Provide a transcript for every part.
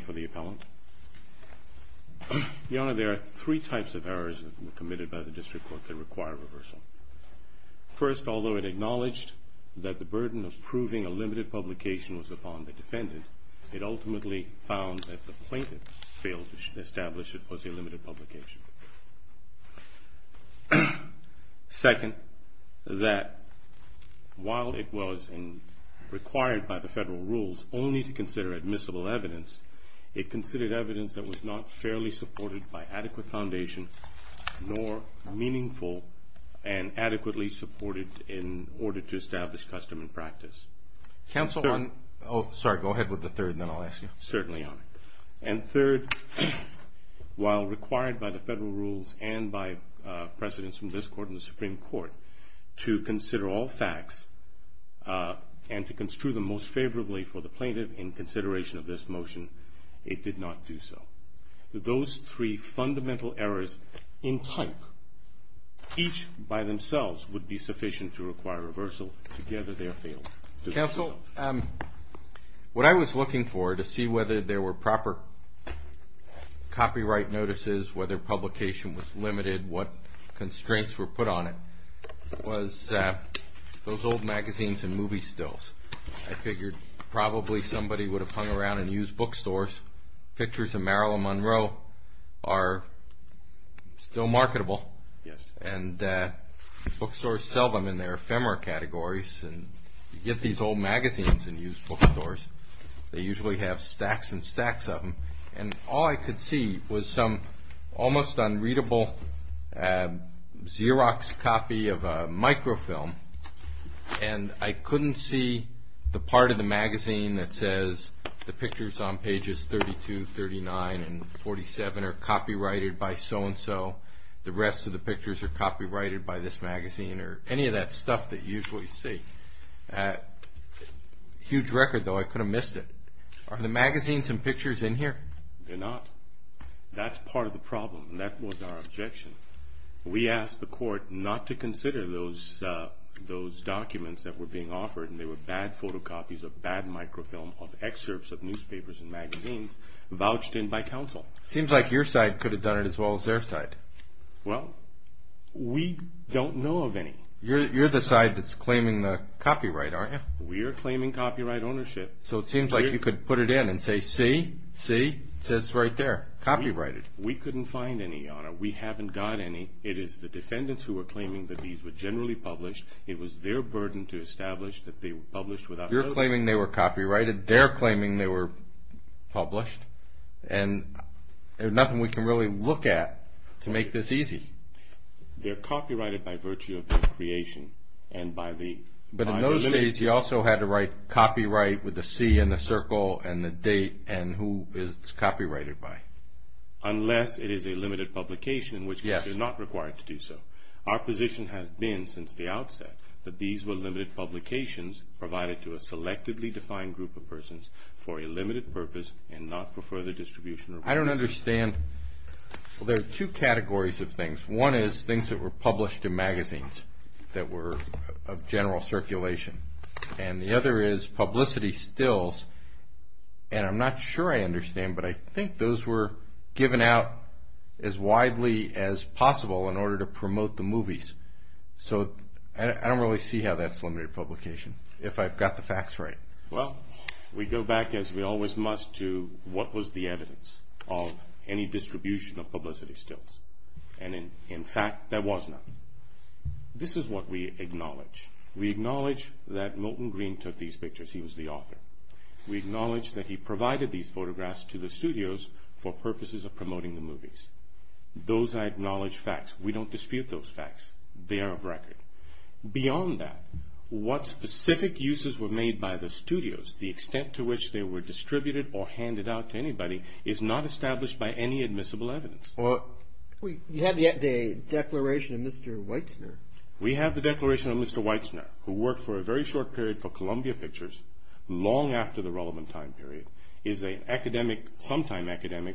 for the appellant. Your Honor, there are three types of errors that were committed by the District Court that require reversal. First, although it acknowledged that the burden of proving a limited publication was upon the defendant, it ultimately found that the plaintiff failed to establish it was a limited publication. Second, that while it was required by the District Court to consider all facts and to construe them most favorably for the plaintiff in consideration of this motion, it did not do so. Those three fundamental errors in type, each by themselves, would be sufficient to require reversal. Together, they are fatal. Counsel, what I was looking for, to see whether there were proper copyright notices, whether publication was limited, what constraints were put on it, was those old magazines and used bookstores. Pictures of Marilyn Monroe are still marketable and bookstores sell them in their ephemera categories. You get these old magazines in used bookstores. They usually have stacks and stacks of them. All I could see was some almost unreadable Xerox copy of a microfilm, and I couldn't see the part of the magazine that says the pictures on pages 32, 39, and 47 are copyrighted by so-and-so. The rest of the pictures are copyrighted by this magazine or any of that stuff that you usually see. Huge record, though. I could have missed it. Are the magazines and pictures in here? They're not. That's part of the problem, and that was our objection. We asked the court not to consider those documents that were being offered, and they were bad photocopies of bad microfilm of excerpts of newspapers and magazines vouched in by counsel. Seems like your side could have done it as well as their side. Well, we don't know of any. You're the side that's claiming the copyright, aren't you? We are claiming copyright ownership. So it seems like you could put it in and say, see? See? It says right there, copyrighted. We couldn't find any, Your Honor. We haven't got any. It is the defendants who are claiming that these were generally published. It was their burden to establish that they were published without... You're claiming they were copyrighted. They're claiming they were published, and there's nothing we can really look at to make this easy. They're copyrighted by virtue of their creation and by the... But in those days, you also had to write copyright with the C and the circle and the date and who it's copyrighted by. Unless it is a limited publication in which case you're not required to do so. Our position has been since the outset that these were limited publications provided to a selectively defined group of persons for a limited purpose and not for further distribution or... I don't understand. Well, there are two categories of things. One is things that were published in magazines that were of general circulation, and the out as widely as possible in order to promote the movies. So I don't really see how that's limited publication if I've got the facts right. Well, we go back as we always must to what was the evidence of any distribution of publicity stills. And in fact, there was none. This is what we acknowledge. We acknowledge that Milton Green took these pictures. He was the author. We acknowledge that he provided these for the purposes of promoting the movies. Those I acknowledge facts. We don't dispute those facts. They are of record. Beyond that, what specific uses were made by the studios, the extent to which they were distributed or handed out to anybody is not established by any admissible evidence. You have the declaration of Mr. Weitzner. We have the declaration of Mr. Weitzner who worked for a very short period for Columbia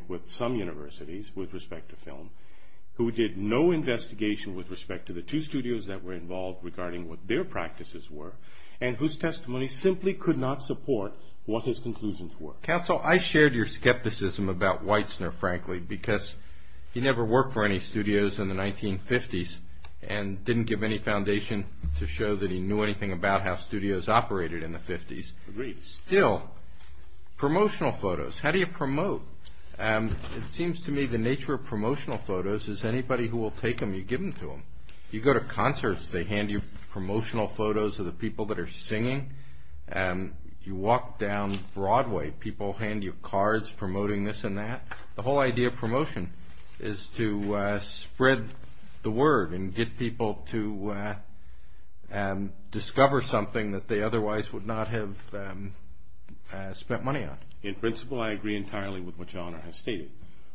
with some universities with respect to film, who did no investigation with respect to the two studios that were involved regarding what their practices were, and whose testimony simply could not support what his conclusions were. Counsel, I shared your skepticism about Weitzner, frankly, because he never worked for any studios in the 1950s and didn't give any foundation to show that he knew anything about how studios operated in the 50s. Agreed. Still, promotional photos. How do you promote? It seems to me the nature of promotional photos is anybody who will take them, you give them to them. You go to concerts, they hand you promotional photos of the people that are singing. You walk down Broadway, people hand you cards promoting this and that. The whole idea of promotion is to spread the word and get people to discover something that they otherwise would not have spent money on. In principle, I agree entirely with what Your Honor has stated,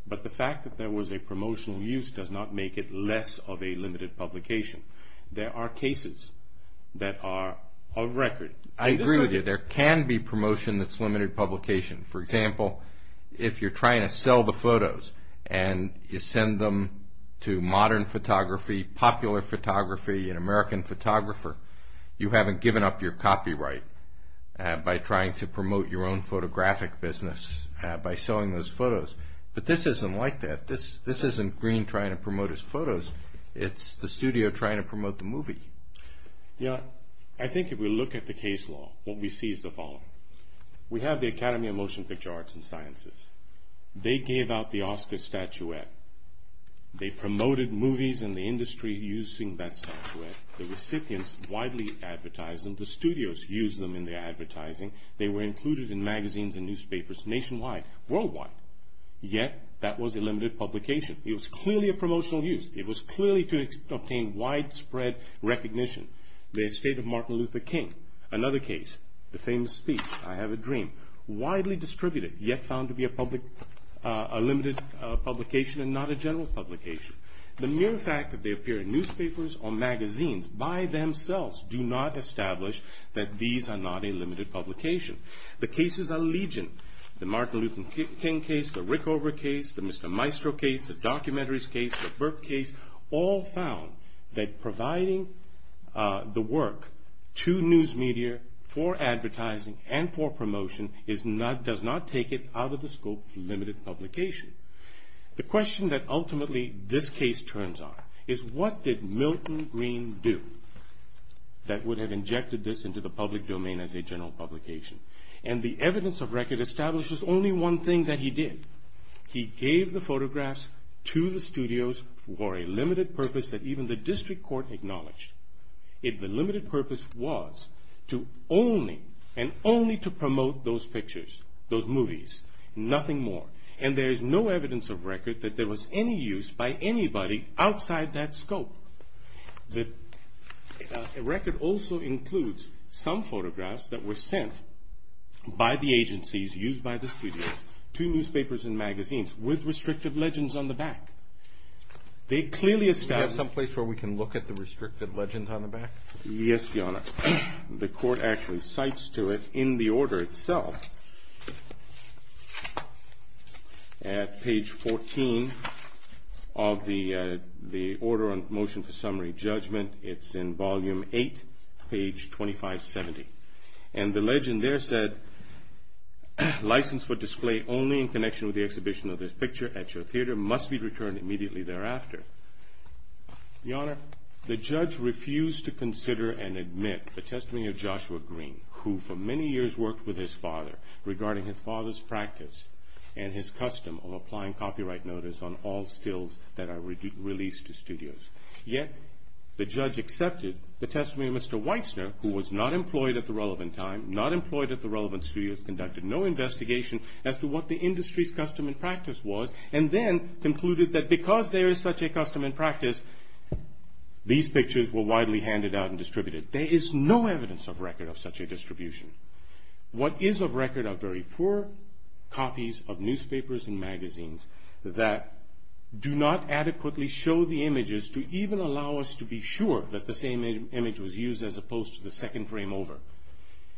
but the fact that there was a promotional use does not make it less of a limited publication. There are cases that are of record. I agree with you. There can be promotion that's limited publication. For example, if you're an American photographer, you haven't given up your copyright by trying to promote your own photographic business by selling those photos. But this isn't like that. This isn't Green trying to promote his photos. It's the studio trying to promote the movie. Your Honor, I think if we look at the case law, what we see is the following. We have the Academy of Motion Picture Arts and Sciences. They gave out the Oscar statuette. They promoted movies and the industry using that statuette. The recipients widely advertised them. The studios used them in their advertising. They were included in magazines and newspapers nationwide, worldwide. Yet, that was a limited publication. It was clearly a promotional use. It was clearly to obtain widespread recognition. The estate of Martin Luther King. Another case, the famous speech, I Have a Dream. Widely distributed, yet found to be a limited publication and not a general publication. The mere fact that they appear in newspapers or magazines by themselves do not establish that these are not a limited publication. The cases are legion. The Martin Luther King case, the Rickover case, the Mr. Maestro case, the Documentaries case, the Burke case, all found that providing the work to news media for advertising and for promotion does not take it out of the scope of limited publication. The question that ultimately this case turns on is what did Milton Green do that would have injected this into the public domain as a general publication? And the evidence of record establishes only one thing that he did. He gave the photographs to the studios for a limited purpose that even the district court acknowledged. If the and only to promote those pictures, those movies, nothing more. And there is no evidence of record that there was any use by anybody outside that scope. The record also includes some photographs that were sent by the agencies used by the studios to newspapers and magazines with restrictive legends on the back. They clearly establish Do we have some place where we can look at the restrictive legends on the back? Yes, Your Honor. The court actually cites to it in the order itself at page 14 of the Order on Motion for Summary Judgment. It's in volume 8, page 2570. And the legend there said, License for display only in connection with the exhibition of this picture at your the testimony of Joshua Green, who for many years worked with his father regarding his father's practice and his custom of applying copyright notice on all stills that are released to studios. Yet the judge accepted the testimony of Mr. Weitzner, who was not employed at the relevant time, not employed at the relevant studios, conducted no investigation as to what the industry's custom and practice was, and then concluded that because there is such a custom and practice, these pictures were widely handed out and distributed. There is no evidence of record of such a distribution. What is of record are very poor copies of newspapers and magazines that do not adequately show the images to even allow us to be sure that the same image was used as opposed to the second frame over.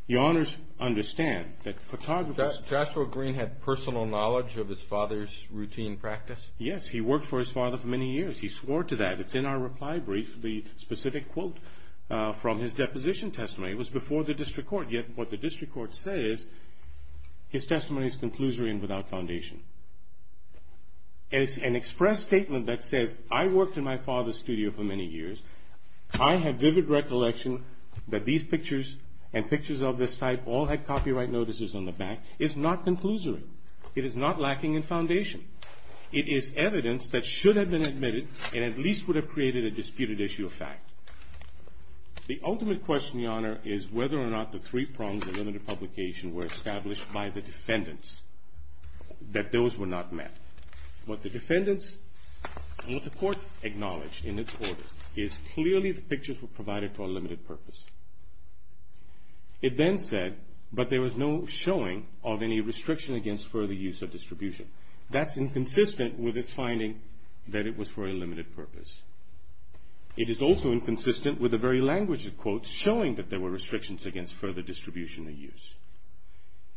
Your Honors understand that photographers- Joshua Green had personal knowledge of his father's routine practice? Yes, he worked for his father for many years. He swore to that. It's in our reply brief, the specific quote from his deposition testimony. It was before the district court. Yet what the district court says, his testimony is conclusory and without foundation. And it's an express statement that says, I worked in my father's studio for many years. I have vivid recollection that these pictures and pictures of this type all had copyright notices on the back. It's not conclusory. It is not lacking in foundation. It is evidence that should have been admitted and at least would have created a disputed issue of fact. The ultimate question, Your Honor, is whether or not the three prongs of limited publication were established by the defendants, that those were not met. What the defendants and what the court acknowledged in its order is clearly the pictures were provided for a limited purpose. It then said, but there was no showing of any restriction against further use of distribution. That's inconsistent with its finding that it was for a limited purpose. It is also inconsistent with the very language of quotes showing that there were restrictions against further distribution of use.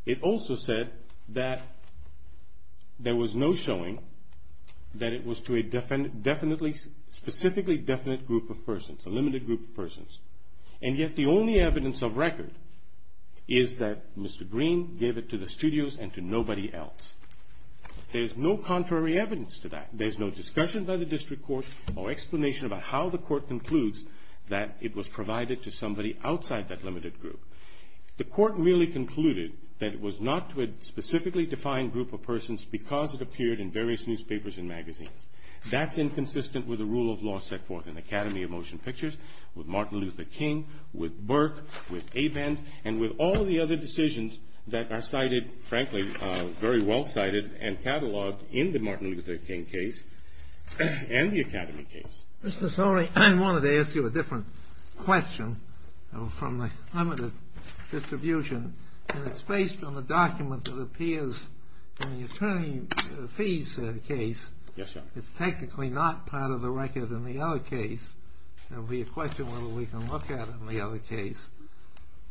It also said that there was no showing that it was to a definitely, specifically definite group of persons, a limited group of persons. And yet the only evidence of record is that Mr. Green gave it to the studios and to nobody else. There's no contrary evidence to that. There's no discussion by the district court or explanation about how the court concludes that it was provided to somebody outside that limited group. The court really concluded that it was not to a specifically defined group of persons because it appeared in various of motion pictures with Martin Luther King, with Burke, with Abend, and with all the other decisions that are cited, frankly, very well cited and cataloged in the Martin Luther King case and the Academy case. Mr. Sorey, I wanted to ask you a different question from the limited distribution. And it's based on the document that appears in the attorney fees case. Yes, Your Honor. It's technically not part of the record in the other case. There'll be a question whether we can look at it in the other case.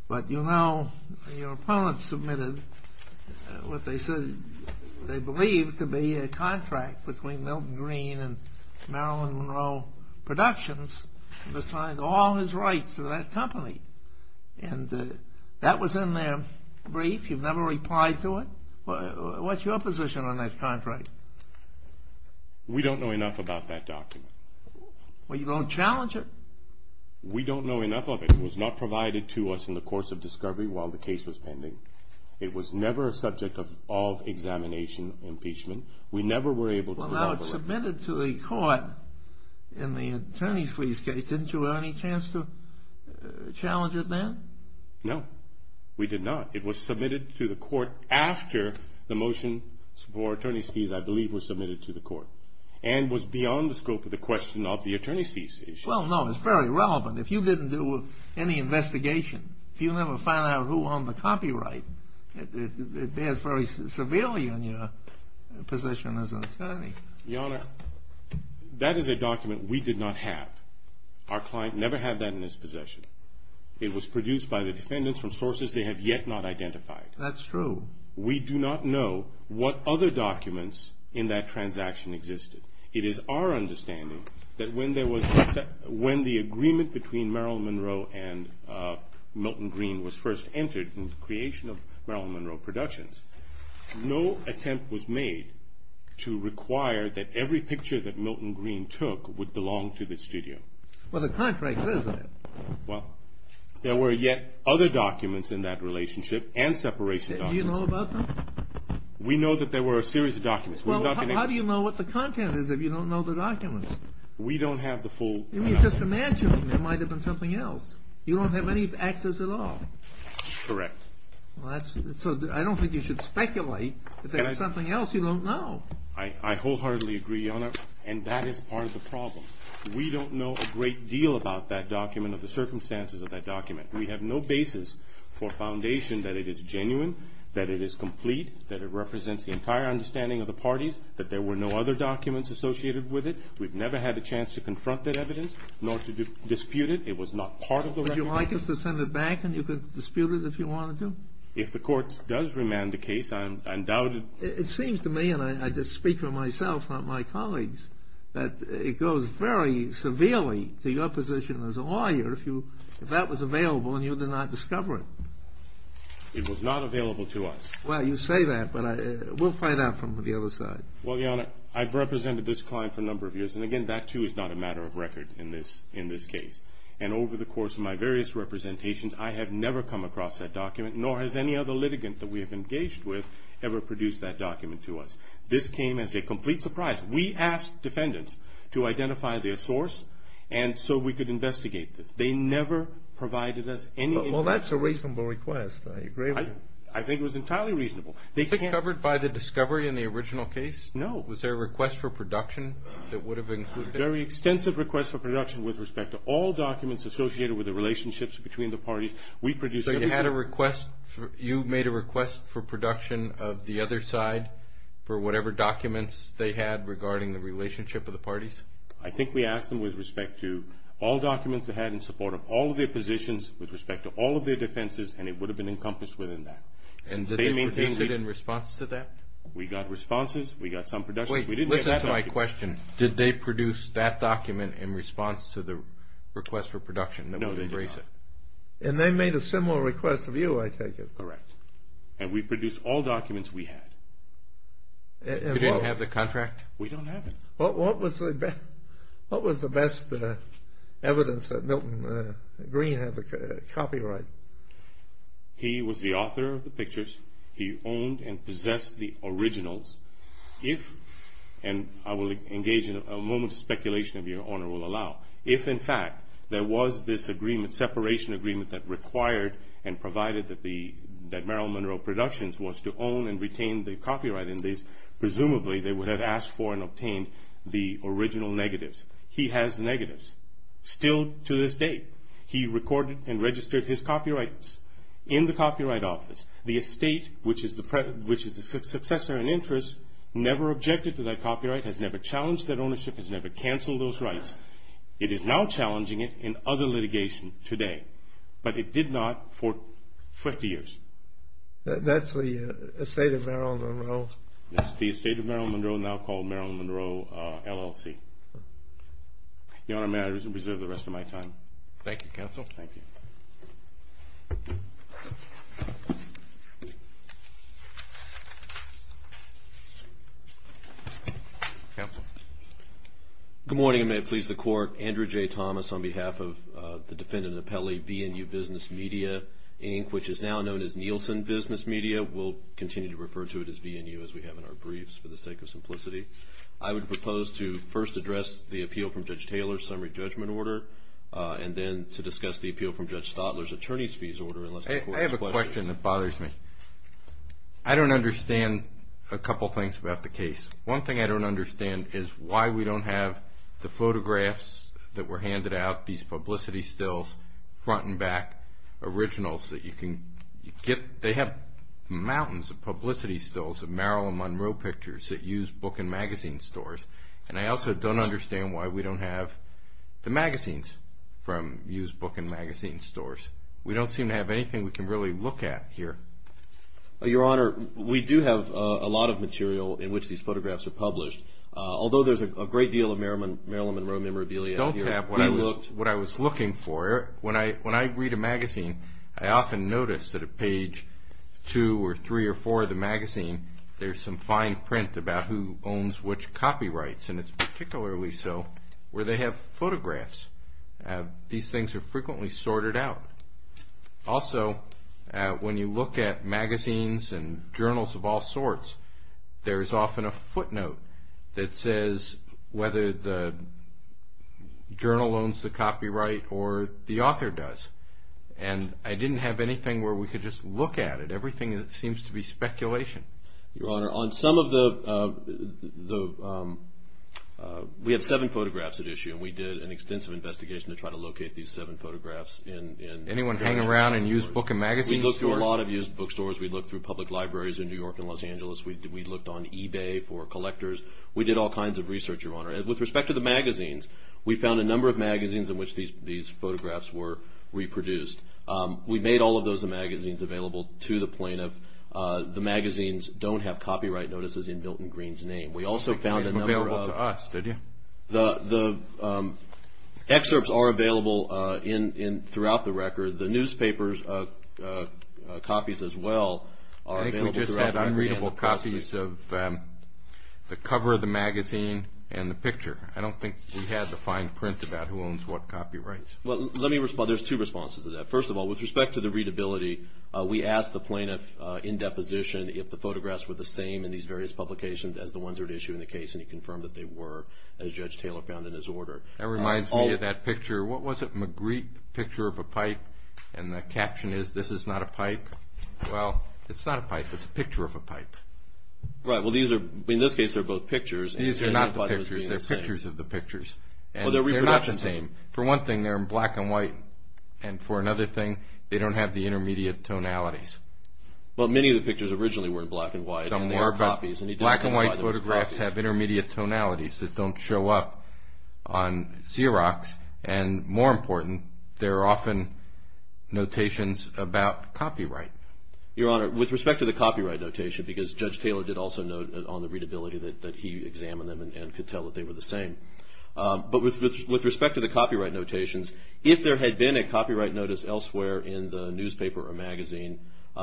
But you know, your opponents submitted what they said they believed to be a contract between Milton Green and Marilyn Monroe Productions to sign all his rights to that company. And that was in their brief. You've never replied to it. What's your position on that contract? We don't know enough about that document. Well, you don't challenge it? We don't know enough of it. It was not provided to us in the course of discovery while the case was pending. It was never a subject of examination, impeachment. We never were able Well, now it's submitted to the court in the attorney's fees case. Didn't you have any chance to challenge it then? No, we did not. It was submitted to the court after the motion for attorney's fees, I believe, was submitted to the court. And was beyond the scope of the question of the attorney's fees issue. Well, no, it's very relevant. If you didn't do any investigation, you'll never find out who owned the copyright. It bears very severely on your position as an attorney. Your Honor, that is a document we did not have. Our client never had that in his possession. It was produced by the defendants from sources they have yet not identified. That's true. We do not know what other documents in that transaction existed. It is our understanding that when the agreement between Meryl Monroe and Milton Green was first entered in the creation of Meryl Monroe Productions, no attempt was made to require that every picture that Milton Green took would belong to the studio. Well, the contract says that. Well, there were yet other documents in that relationship and separation documents. Do you know about them? We know that there were a series of documents. Well, how do you know what the content is if you don't know the documents? We don't have the full... Just imagine there might have been something else. You don't have any access at all. Correct. I don't think you should speculate that there's something else you don't know. I wholeheartedly agree, Your Honor, and that is part of the problem. We don't know a great deal about that document or the circumstances of that document. We have no basis for foundation that it is genuine, that it is complete, that it represents the entire understanding of the parties, that there were no other documents associated with it. We've never had a chance to confront that evidence nor to dispute it. It was not part of the record. Would you like us to send it back and you could dispute it if you wanted to? If the Court does remand the case, I'm doubted. It seems to me, and I just speak for myself, not my colleagues, that it goes very severely to your position as a lawyer if that was available and you did not discover it. It was not available to us. Well, you say that, but we'll find out from the other side. Well, Your Honor, I've represented this client for a number of years, and again, that too is not a matter of record in this case. And over the course of my various representations, I have never come across that document, nor has any other litigant that we have engaged with ever produced that document to us. This came as a complete surprise. We asked defendants to identify their source so we could investigate this. They never provided us any information. Well, that's a reasonable request. I agree with you. I think it was entirely reasonable. Was it covered by the discovery in the original case? No. Was there a request for production that would have included it? A very extensive request for production with respect to all documents associated with the relationships between the parties. So you made a request for production of the other side for whatever documents they had regarding the relationship of the parties? I think we asked them with respect to all documents they had in support of all of their positions with respect to all of their defenses, and it would have been encompassed within that. And did they produce it in response to that? We got responses. We got some productions. Wait. Listen to my question. Did they produce that document in response to the request for production? No, they did not. And they made a similar request of you, I take it. Correct. And we produced all documents we had. You didn't have the contract? We don't have it. What was the best evidence that Milton Green had the copyright? He was the author of the pictures. He owned and possessed the originals. If, and I will engage in a moment of speculation if Your Honor will allow, if in fact there was this agreement, separation agreement, that required and provided that Marilyn Monroe Productions was to own and retain the copyright in these, presumably they would have asked for and obtained the original negatives. He has negatives still to this day. He recorded and registered his copyrights in the copyright office. The estate, which is the successor in interest, never objected to that copyright, has never challenged that ownership, has never canceled those rights. It is now challenging it in other litigation today, but it did not for 50 years. That's the estate of Marilyn Monroe? That's the estate of Marilyn Monroe, now called Marilyn Monroe LLC. Your Honor, may I reserve the rest of my time? Thank you, counsel. Thank you. Counsel. Good morning, and may it please the Court. Andrew J. Thomas on behalf of the defendant appellee, VNU Business Media, Inc., which is now known as Nielsen Business Media. We'll continue to refer to it as VNU as we have in our briefs for the sake of simplicity. I would propose to first address the appeal from Judge Taylor's summary judgment order and then to discuss the appeal from Judge Stotler's attorney's fees order. I have a question that bothers me. I don't understand a couple things about the case. One thing I don't understand is why we don't have the photographs that were handed out, these publicity stills, front and back, originals that you can get. They have mountains of publicity stills of Marilyn Monroe pictures that use book and magazine stores, and I also don't understand why we don't have the magazines from used book and magazine stores. We don't seem to have anything we can really look at here. Your Honor, we do have a lot of material in which these photographs are published, although there's a great deal of Marilyn Monroe memorabilia. I don't have what I was looking for. When I read a magazine, I often notice that at page 2 or 3 or 4 of the magazine, there's some fine print about who owns which copyrights, and it's particularly so where they have photographs. These things are frequently sorted out. Also, when you look at magazines and journals of all sorts, there is often a footnote that says whether the journal owns the copyright or the author does, and I didn't have anything where we could just look at it. Everything seems to be speculation. Your Honor, on some of the – we have seven photographs at issue, and we did an extensive investigation to try to locate these seven photographs. Anyone hang around in used book and magazine stores? We looked through a lot of used bookstores. We looked through public libraries in New York and Los Angeles. We looked on eBay for collectors. We did all kinds of research, Your Honor. With respect to the magazines, we found a number of magazines in which these photographs were reproduced. We made all of those magazines available to the plaintiff. The magazines don't have copyright notices in Milton Green's name. We also found a number of – They weren't available to us, did you? The excerpts are available throughout the record. The newspapers' copies as well are available throughout. I think we just had unreadable copies of the cover of the magazine and the picture. I don't think we had the fine print about who owns what copyrights. Well, let me – there's two responses to that. First of all, with respect to the readability, we asked the plaintiff in deposition if the photographs were the same in these various publications as the ones at issue in the case, and he confirmed that they were. As Judge Taylor found in his order. That reminds me of that picture. What was it? Magritte, Picture of a Pipe, and the caption is, This is not a pipe. Well, it's not a pipe. It's a picture of a pipe. Right. Well, these are – in this case, they're both pictures. These are not the pictures. They're pictures of the pictures. Well, they're reproductions. They're not the same. For one thing, they're in black and white, and for another thing, they don't have the intermediate tonalities. Well, many of the pictures originally were in black and white. Some were, but black and white photographs have intermediate tonalities that don't show up on Xerox, and more important, they're often notations about copyright. Your Honor, with respect to the copyright notation, because Judge Taylor did also note on the readability that he examined them and could tell that they were the same, but with respect to the copyright notations, if there had been a copyright notice elsewhere in the newspaper or magazine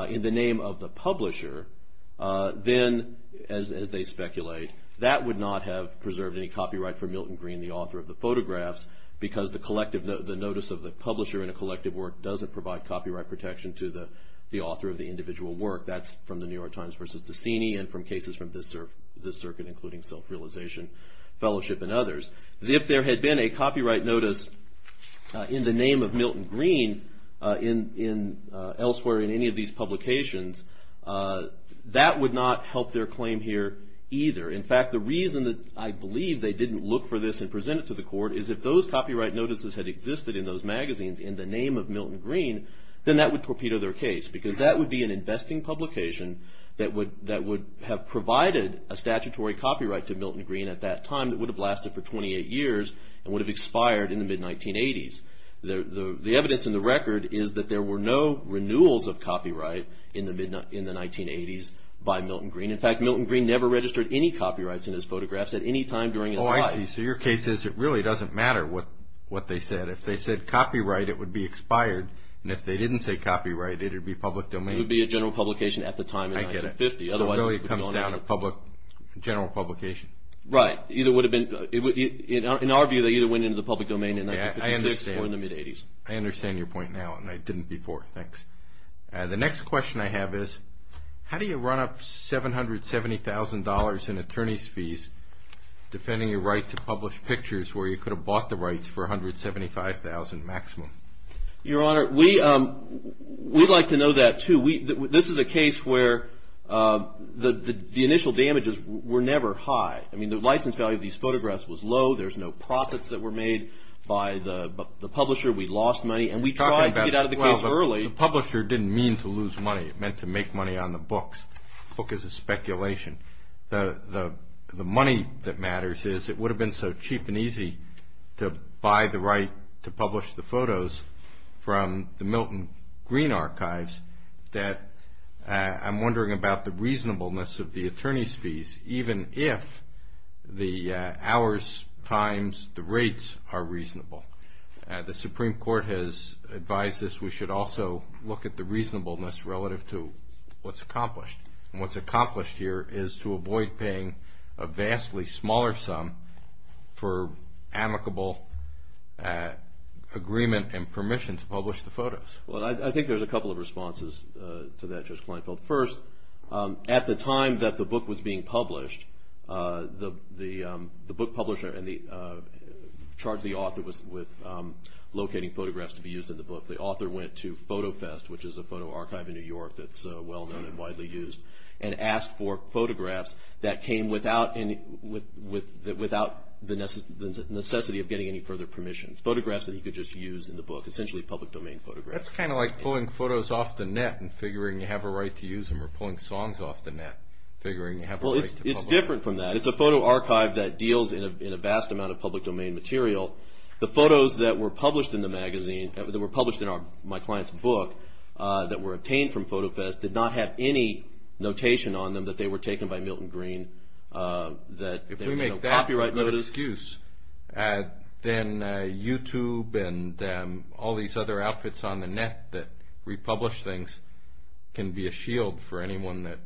in the name of the publisher, then, as they speculate, that would not have preserved any copyright for Milton Green, the author of the photographs, because the notice of the publisher in a collective work doesn't provide copyright protection to the author of the individual work. That's from the New York Times versus Decini and from cases from this circuit, including Self-Realization Fellowship and others. If there had been a copyright notice in the name of Milton Green elsewhere in any of these publications, that would not help their claim here either. In fact, the reason that I believe they didn't look for this and present it to the court is if those copyright notices had existed in those magazines in the name of Milton Green, then that would torpedo their case, because that would be an investing publication that would have provided a statutory copyright to Milton Green at that time that would have lasted for 28 years and would have expired in the mid-1980s. The evidence in the record is that there were no renewals of copyright in the 1980s by Milton Green. In fact, Milton Green never registered any copyrights in his photographs at any time during his life. Oh, I see. So your case is it really doesn't matter what they said. If they said copyright, it would be expired, and if they didn't say copyright, it would be public domain. It would be a general publication at the time in 1950. I get it. So it really comes down to general publication. Right. In our view, they either went into the public domain in 1956. Okay. I understand. Or in the mid-'80s. I understand your point now, and I didn't before. Thanks. The next question I have is how do you run up $770,000 in attorney's fees defending your right to publish pictures where you could have bought the rights for $175,000 maximum? Your Honor, we'd like to know that, too. This is a case where the initial damages were never high. I mean, the license value of these photographs was low. There's no profits that were made by the publisher. We lost money, and we tried to get out of the case early. Well, the publisher didn't mean to lose money. It meant to make money on the books. The book is a speculation. The money that matters is it would have been so cheap and easy to buy the right to publish the photos from the Milton Green archives that I'm wondering about the reasonableness of the attorney's fees, even if the hours, times, the rates are reasonable. The Supreme Court has advised us we should also look at the reasonableness relative to what's accomplished. And what's accomplished here is to avoid paying a vastly smaller sum for amicable agreement and permission to publish the photos. Well, I think there's a couple of responses to that, Judge Kleinfeld. First, at the time that the book was being published, the book publisher charged the author with locating photographs to be used in the book. The author went to PhotoFest, which is a photo archive in New York that's well-known and widely used, and asked for photographs that came without the necessity of getting any further permissions, photographs that he could just use in the book, essentially public domain photographs. That's kind of like pulling photos off the net and figuring you have a right to use them, or pulling songs off the net, figuring you have a right to publish them. Well, it's different from that. It's a photo archive that deals in a vast amount of public domain material. The photos that were published in the magazine, that were published in my client's book, that were obtained from PhotoFest did not have any notation on them that they were taken by Milton Green, that there were no copyright notices. Then YouTube and all these other outfits on the net that republish things can be a shield for anyone that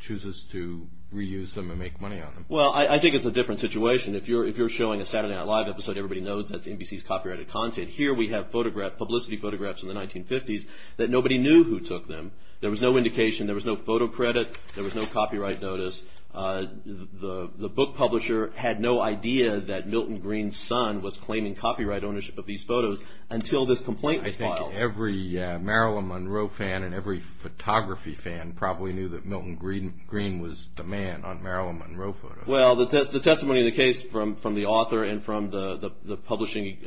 chooses to reuse them and make money on them. Well, I think it's a different situation. If you're showing a Saturday Night Live episode, everybody knows that's NBC's copyrighted content. Here we have publicity photographs from the 1950s that nobody knew who took them. There was no indication. There was no photo credit. There was no copyright notice. The book publisher had no idea that Milton Green's son was claiming copyright ownership of these photos until this complaint was filed. I think every Marilyn Monroe fan and every photography fan probably knew that Milton Green was the man on Marilyn Monroe photos. Well, the testimony in the case from the author and from the publishing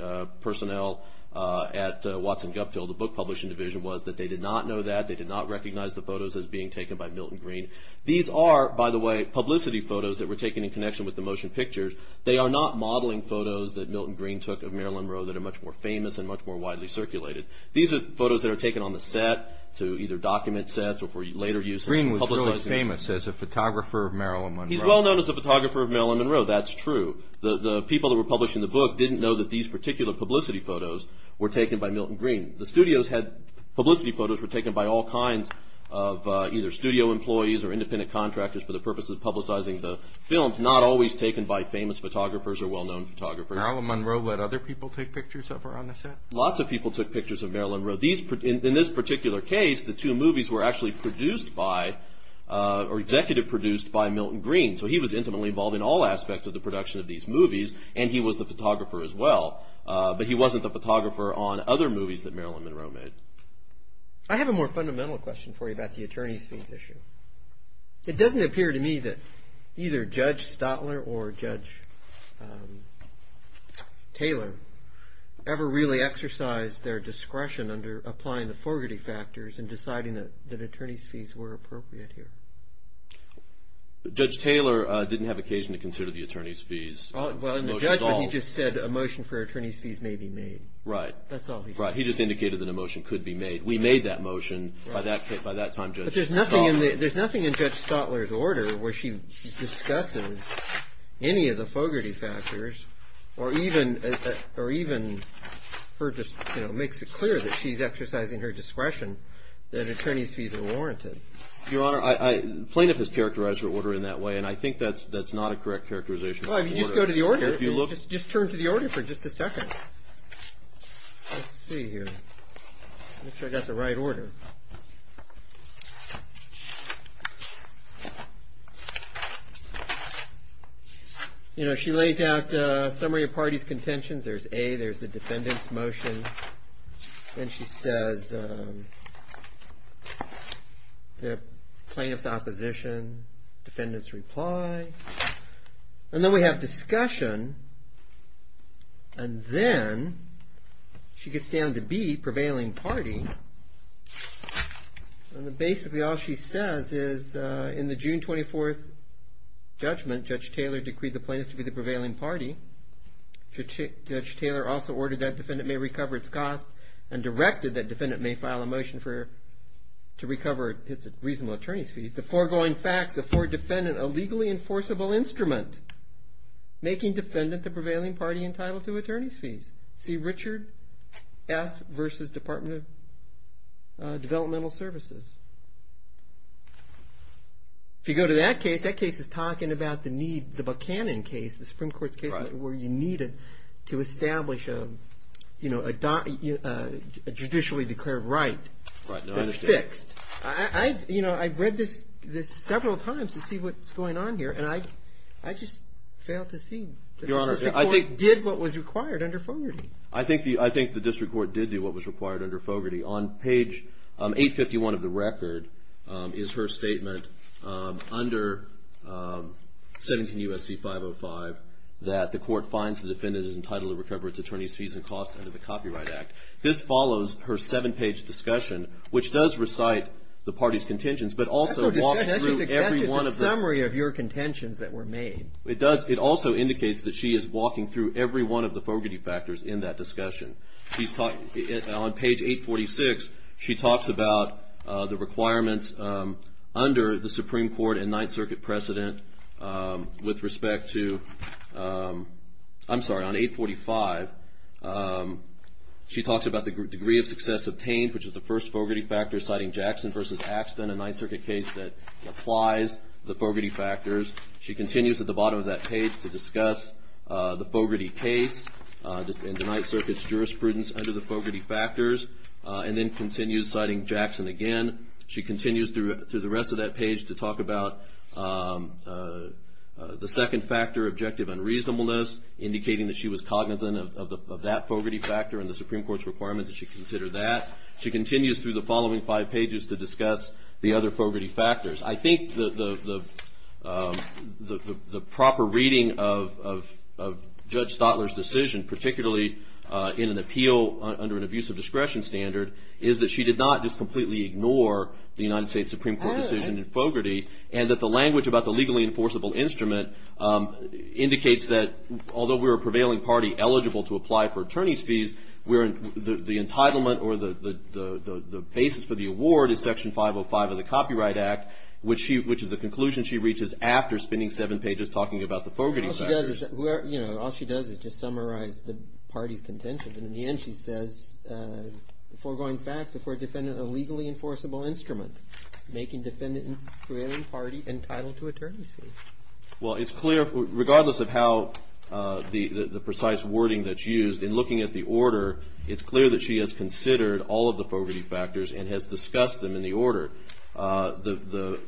personnel at Watson-Gupfill, the book publishing division, was that they did not know that. They did not recognize the photos as being taken by Milton Green. These are, by the way, publicity photos that were taken in connection with the motion pictures. They are not modeling photos that Milton Green took of Marilyn Monroe that are much more famous and much more widely circulated. These are photos that are taken on the set to either document sets or for later use. Green was really famous as a photographer of Marilyn Monroe. He's well known as a photographer of Marilyn Monroe. That's true. The people that were publishing the book didn't know that these particular publicity photos were taken by Milton Green. The studios had publicity photos were taken by all kinds of either studio employees or independent contractors for the purpose of publicizing the films, not always taken by famous photographers or well-known photographers. Marilyn Monroe let other people take pictures of her on the set? Lots of people took pictures of Marilyn Monroe. In this particular case, the two movies were actually produced by or executive produced by Milton Green. So he was intimately involved in all aspects of the production of these movies, and he was the photographer as well. But he wasn't the photographer on other movies that Marilyn Monroe made. I have a more fundamental question for you about the attorney's fees issue. It doesn't appear to me that either Judge Stotler or Judge Taylor ever really exercised their discretion under applying the Fogarty factors in deciding that attorney's fees were appropriate here. Judge Taylor didn't have occasion to consider the attorney's fees. Well, in the judgment, he just said a motion for attorney's fees may be made. Right. That's all he said. Right. He just indicated that a motion could be made. We made that motion. By that time, Judge Stotler— But there's nothing in Judge Stotler's order where she discusses any of the Fogarty factors or even makes it clear that she's exercising her discretion that attorney's fees are warranted. Your Honor, plaintiff has characterized her order in that way, and I think that's not a correct characterization of the order. Well, if you just go to the order, just turn to the order for just a second. Let's see here. Make sure I got the right order. You know, she lays out the summary of parties' contentions. There's A. There's the defendant's motion. Then she says plaintiff's opposition, defendant's reply. And then we have discussion, and then she gets down to B, prevailing party. And basically all she says is, in the June 24th judgment, Judge Taylor decreed the plaintiff to be the prevailing party. Judge Taylor also ordered that defendant may recover its costs and directed that defendant may file a motion to recover its reasonable attorney's fees. The foregoing facts afford defendant a legally enforceable instrument, making defendant the prevailing party entitled to attorney's fees. See Richard S. versus Department of Developmental Services. If you go to that case, that case is talking about the Buchanan case, the Supreme Court's case, where you needed to establish a judicially declared right that's fixed. You know, I've read this several times to see what's going on here, and I just fail to see that the district court did what was required under Fogarty. I think the district court did do what was required under Fogarty. On page 851 of the record is her statement under 17 U.S.C. 505 that the court finds the defendant is entitled to recover its attorney's fees and costs under the Copyright Act. This follows her seven-page discussion, which does recite the party's contentions, but also walks through every one of them. That's the summary of your contentions that were made. It does. It also indicates that she is walking through every one of the Fogarty factors in that discussion. On page 846, she talks about the requirements under the Supreme Court and Ninth Circuit precedent with respect to – I'm sorry. On 845, she talks about the degree of success obtained, which is the first Fogarty factor, citing Jackson versus Axton, a Ninth Circuit case that applies the Fogarty factors. She continues at the bottom of that page to discuss the Fogarty case and the Ninth Circuit's jurisprudence under the Fogarty factors, and then continues citing Jackson again. She continues through the rest of that page to talk about the second factor, objective unreasonableness, indicating that she was cognizant of that Fogarty factor and the Supreme Court's requirements that she consider that. She continues through the following five pages to discuss the other Fogarty factors. I think the proper reading of Judge Stotler's decision, particularly in an appeal under an abusive discretion standard, is that she did not just completely ignore the United States Supreme Court decision in Fogarty and that the language about the legally enforceable instrument indicates that although we're a prevailing party eligible to apply for attorney's fees, the entitlement or the basis for the award is Section 505 of the Copyright Act, which is a conclusion she reaches after spending seven pages talking about the Fogarty factors. All she does is just summarize the party's contentions, and in the end she says, foregoing facts, if we're a defendant of a legally enforceable instrument, making defendant and prevailing party entitled to attorney's fees. Well, it's clear, regardless of how the precise wording that's used, in looking at the order, it's clear that she has considered all of the Fogarty factors and has discussed them in the order. The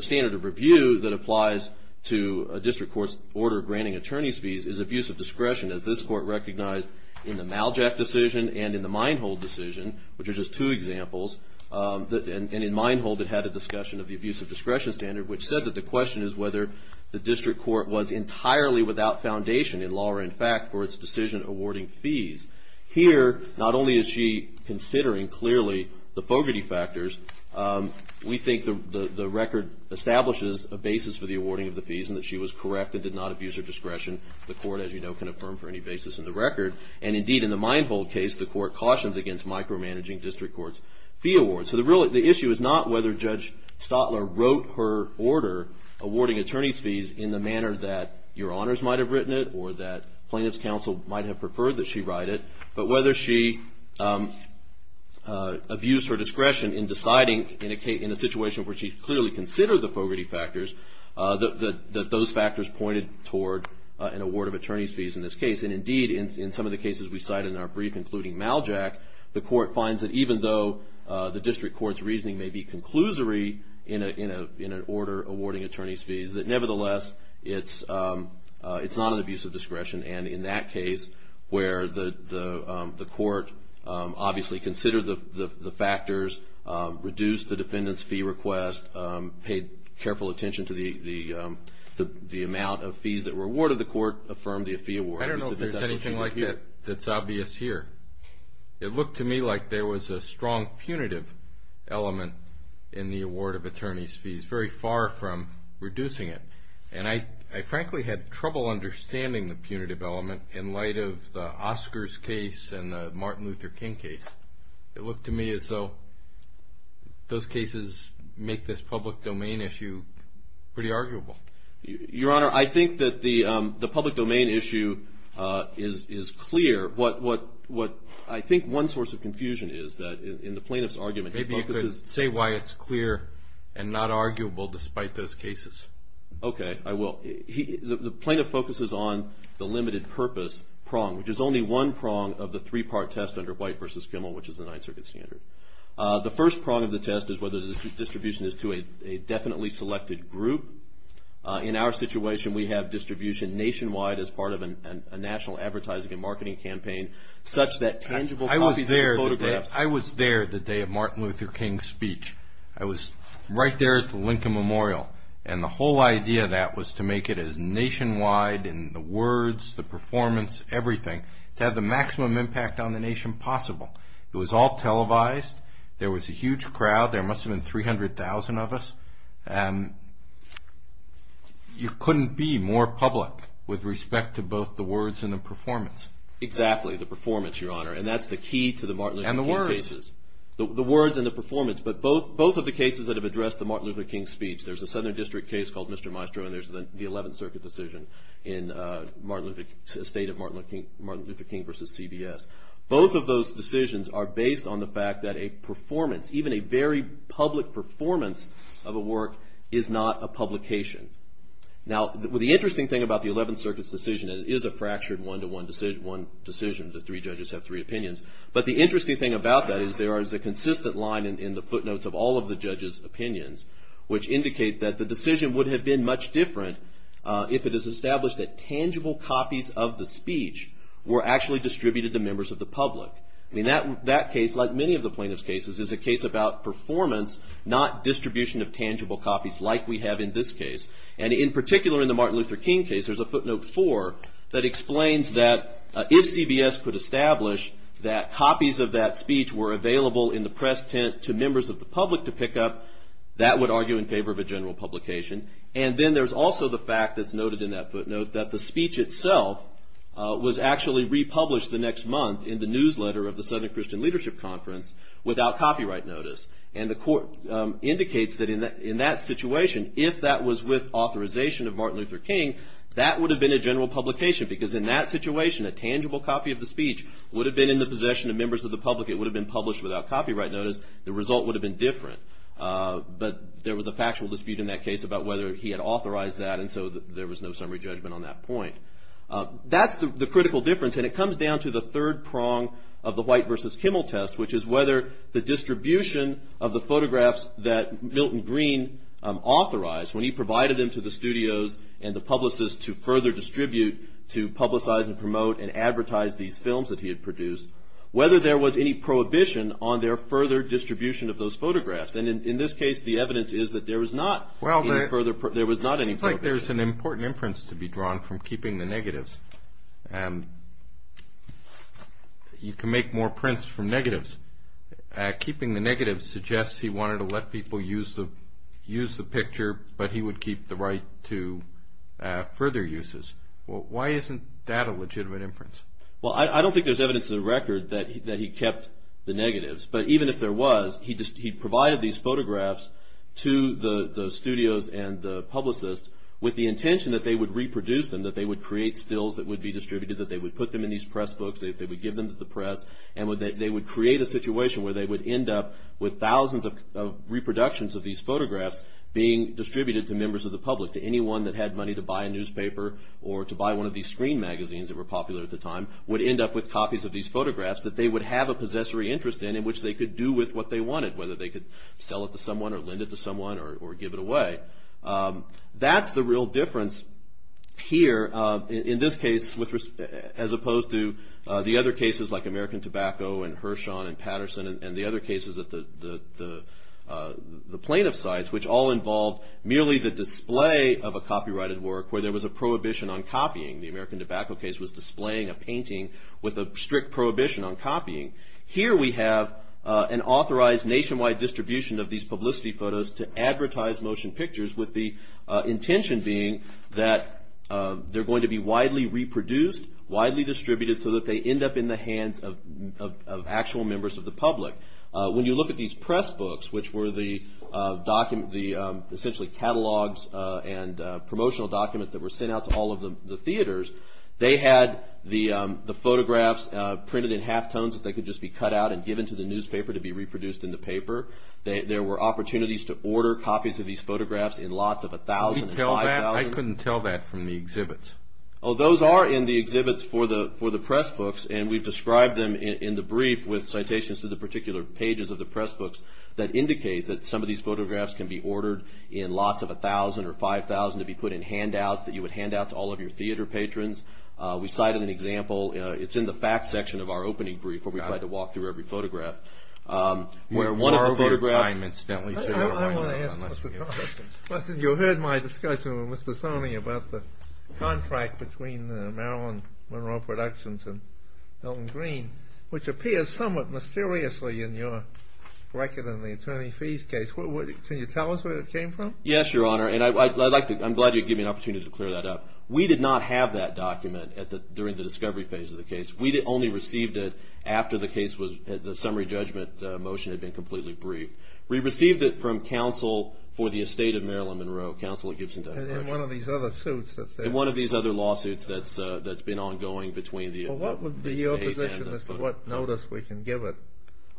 standard of review that applies to a district court's order granting attorney's fees is abusive discretion, as this Court recognized in the Maljack decision and in the Minehold decision, which are just two examples. And in Minehold it had a discussion of the abusive discretion standard, which said that the question is whether the district court was entirely without foundation in law or in fact for its decision awarding fees. Here, not only is she considering clearly the Fogarty factors, we think the record establishes a basis for the awarding of the fees and that she was correct and did not abuse her discretion. The Court, as you know, can affirm for any basis in the record. And indeed, in the Minehold case, the Court cautions against micromanaging district court's fee awards. So the issue is not whether Judge Stotler wrote her order awarding attorney's fees in the manner that your honors might have written it or that plaintiff's counsel might have preferred that she write it, but whether she abused her discretion in deciding in a situation where she clearly considered the Fogarty factors, that those factors pointed toward an award of attorney's fees in this case. And indeed, in some of the cases we cite in our brief, including Maljack, the Court finds that even though the district court's reasoning may be conclusory in an order awarding attorney's fees, that nevertheless it's not an abuse of discretion. And in that case where the Court obviously considered the factors, reduced the defendant's fee request, paid careful attention to the amount of fees that were awarded, the Court affirmed the fee award. I don't know if there's anything like that that's obvious here. It looked to me like there was a strong punitive element in the award of attorney's fees, very far from reducing it. And I frankly had trouble understanding the punitive element in light of the Oscars case and the Martin Luther King case. It looked to me as though those cases make this public domain issue pretty arguable. Your Honor, I think that the public domain issue is clear. I think one source of confusion is that in the plaintiff's argument he focuses- Maybe you could say why it's clear and not arguable despite those cases. Okay, I will. The plaintiff focuses on the limited purpose prong, which is only one prong of the three-part test under White v. Kimmel, which is the Ninth Circuit standard. The first prong of the test is whether the distribution is to a definitely selected group. In our situation, we have distribution nationwide as part of a national advertising and marketing campaign, such that tangible copies of photographs- I was there the day of Martin Luther King's speech. I was right there at the Lincoln Memorial, and the whole idea of that was to make it as nationwide in the words, the performance, everything, to have the maximum impact on the nation possible. It was all televised. There was a huge crowd. There must have been 300,000 of us. You couldn't be more public with respect to both the words and the performance. Exactly, the performance, Your Honor, and that's the key to the Martin Luther King cases. And the words. The words and the performance, but both of the cases that have addressed the Martin Luther King speech. There's a Southern District case called Mr. Maestro, and there's the Eleventh Circuit decision in the state of Martin Luther King v. CBS. Both of those decisions are based on the fact that a performance, even a very public performance of a work, is not a publication. Now, the interesting thing about the Eleventh Circuit's decision, and it is a fractured one-to-one decision, the three judges have three opinions, but the interesting thing about that is there is a consistent line in the footnotes of all of the judges' opinions, which indicate that the decision would have been much different if it is established that tangible copies of the speech were actually distributed to members of the public. I mean, that case, like many of the plaintiff's cases, is a case about performance, not distribution of tangible copies like we have in this case. And in particular in the Martin Luther King case, there's a footnote four that explains that if CBS could establish that copies of that speech were available in the press tent to members of the public to pick up, that would argue in favor of a general publication. And then there's also the fact that's noted in that footnote that the speech itself was actually republished the next month in the newsletter of the Southern Christian Leadership Conference without copyright notice. And the court indicates that in that situation, if that was with authorization of Martin Luther King, that would have been a general publication, because in that situation, a tangible copy of the speech would have been in the possession of members of the public. It would have been published without copyright notice. The result would have been different. But there was a factual dispute in that case about whether he had authorized that, and so there was no summary judgment on that point. That's the critical difference. And it comes down to the third prong of the White versus Kimmel test, which is whether the distribution of the photographs that Milton Green authorized, when he provided them to the studios and the publicists to further distribute, to publicize and promote and advertise these films that he had produced, whether there was any prohibition on their further distribution of those photographs. And in this case, the evidence is that there was not any further prohibition. It seems like there's an important inference to be drawn from keeping the negatives. You can make more prints from negatives. Keeping the negatives suggests he wanted to let people use the picture, but he would keep the right to further uses. Why isn't that a legitimate inference? Well, I don't think there's evidence in the record that he kept the negatives. But even if there was, he provided these photographs to the studios and the publicists with the intention that they would reproduce them, that they would create stills that would be distributed, that they would put them in these press books, they would give them to the press, and they would create a situation where they would end up with thousands of reproductions of these photographs being distributed to members of the public, to anyone that had money to buy a newspaper or to buy one of these screen magazines that were popular at the time, would end up with copies of these photographs that they would have a possessory interest in, which they could do with what they wanted, whether they could sell it to someone or lend it to someone or give it away. That's the real difference here, in this case, as opposed to the other cases like American Tobacco and Hirshhorn and Patterson and the other cases at the plaintiff sites, which all involved merely the display of a copyrighted work where there was a prohibition on copying. The American Tobacco case was displaying a painting with a strict prohibition on copying. Here we have an authorized nationwide distribution of these publicity photos to advertise motion pictures with the intention being that they're going to be widely reproduced, widely distributed, so that they end up in the hands of actual members of the public. When you look at these press books, which were the essentially catalogs and promotional documents that were sent out to all of the theaters, they had the photographs printed in halftones that they could just be cut out and given to the newspaper to be reproduced in the paper. There were opportunities to order copies of these photographs in lots of 1,000 and 5,000. I couldn't tell that from the exhibits. Those are in the exhibits for the press books, and we've described them in the brief with citations to the particular pages of the press books that indicate that some of these photographs can be ordered in lots of 1,000 or 5,000 to be put in handouts that you would hand out to all of your theater patrons. We cited an example. It's in the facts section of our opening brief where we try to walk through every photograph. Where one of the photographs... I want to ask you a question. You heard my discussion with Mr. Soni about the contract between the Maryland Monroe Productions and Milton Green, which appears somewhat mysteriously in your record in the attorney fees case. Can you tell us where it came from? Yes, Your Honor, and I'm glad you gave me an opportunity to clear that up. We did not have that document during the discovery phase of the case. We only received it after the summary judgment motion had been completely briefed. We received it from counsel for the estate of Maryland Monroe, Counselor Gibson. And in one of these other lawsuits that's been ongoing between the... What would be your position as to what notice we can give it?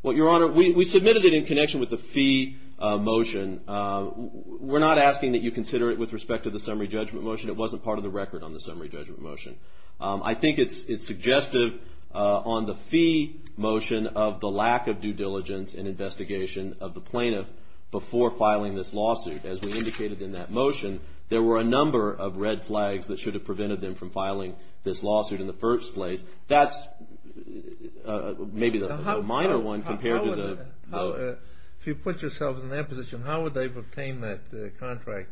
Your Honor, we submitted it in connection with the fee motion. We're not asking that you consider it with respect to the summary judgment motion. It wasn't part of the record on the summary judgment motion. I think it's suggestive on the fee motion of the lack of due diligence and investigation of the plaintiff before filing this lawsuit. As we indicated in that motion, there were a number of red flags that should have prevented them from filing this lawsuit in the first place. That's maybe the minor one compared to the... If you put yourselves in their position, how would they have obtained that contract?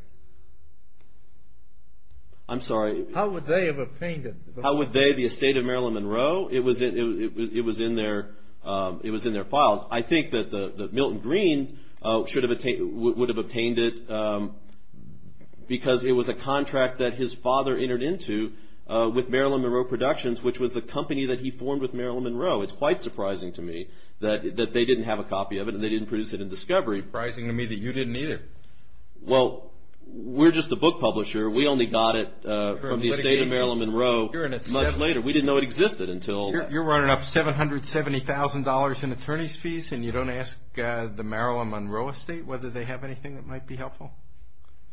I'm sorry? How would they have obtained it? How would they, the estate of Maryland Monroe? It was in their files. I think that Milton Green would have obtained it because it was a contract that his father entered into with Maryland Monroe Productions, which was the company that he formed with Maryland Monroe. It's quite surprising to me that they didn't have a copy of it and they didn't produce it in discovery. Surprising to me that you didn't either. Well, we're just a book publisher. We only got it from the estate of Maryland Monroe much later. We didn't know it existed until... You're running up $770,000 in attorney's fees and you don't ask the Maryland Monroe estate whether they have anything that might be helpful?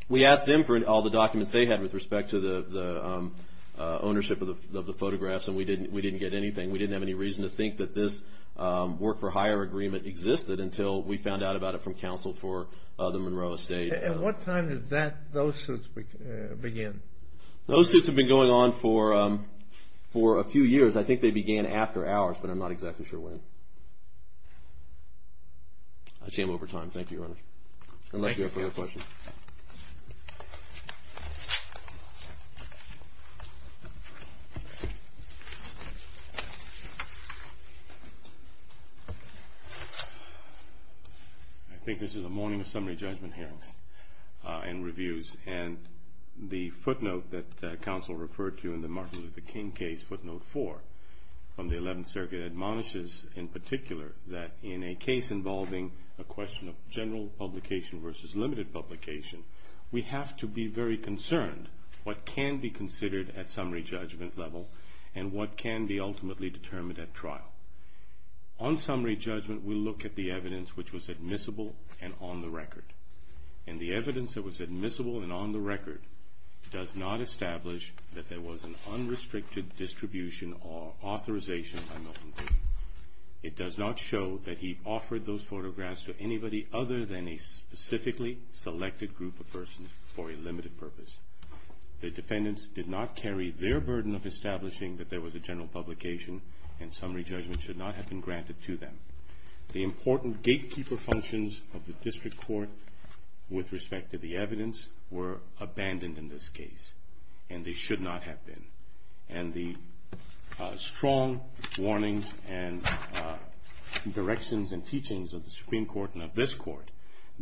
We asked them for all the documents they had with respect to the ownership of the photographs and we didn't get anything. We didn't have any reason to think that this work-for-hire agreement existed until we found out about it from counsel for the Monroe estate. At what time did those suits begin? Those suits have been going on for a few years. I think they began after ours, but I'm not exactly sure when. I see I'm over time. Thank you, Your Honor. Unless you have further questions. Thank you. I think this is a morning of summary judgment hearing and reviews, and the footnote that counsel referred to in the Martin Luther King case, footnote 4, from the Eleventh Circuit, admonishes in particular that in a case involving a question of general publication versus limited publication, we have to be very concerned what can be considered at summary judgment level and what can be ultimately determined at trial. On summary judgment, we look at the evidence which was admissible and on the record, and the evidence that was admissible and on the record does not establish that there was an unrestricted distribution or authorization by Milton King. It does not show that he offered those photographs to anybody other than a specifically selected group of persons for a limited purpose. The defendants did not carry their burden of establishing that there was a general publication and summary judgment should not have been granted to them. The important gatekeeper functions of the district court with respect to the evidence were abandoned in this case, and they should not have been. And the strong warnings and directions and teachings of the Supreme Court and of this court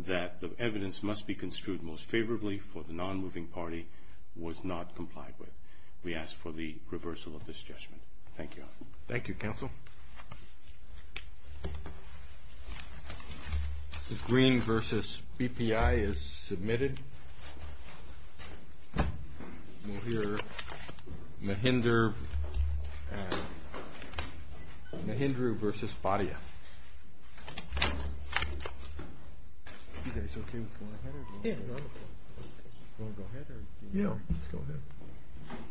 that the evidence must be construed most favorably for the non-moving party was not complied with. We ask for the reversal of this judgment. Thank you. Thank you, Counsel. The green versus BPI is submitted. We'll hear Mahindra versus Padia. You guys okay with going ahead? Yeah. You want to go ahead? Yeah. Let's go ahead.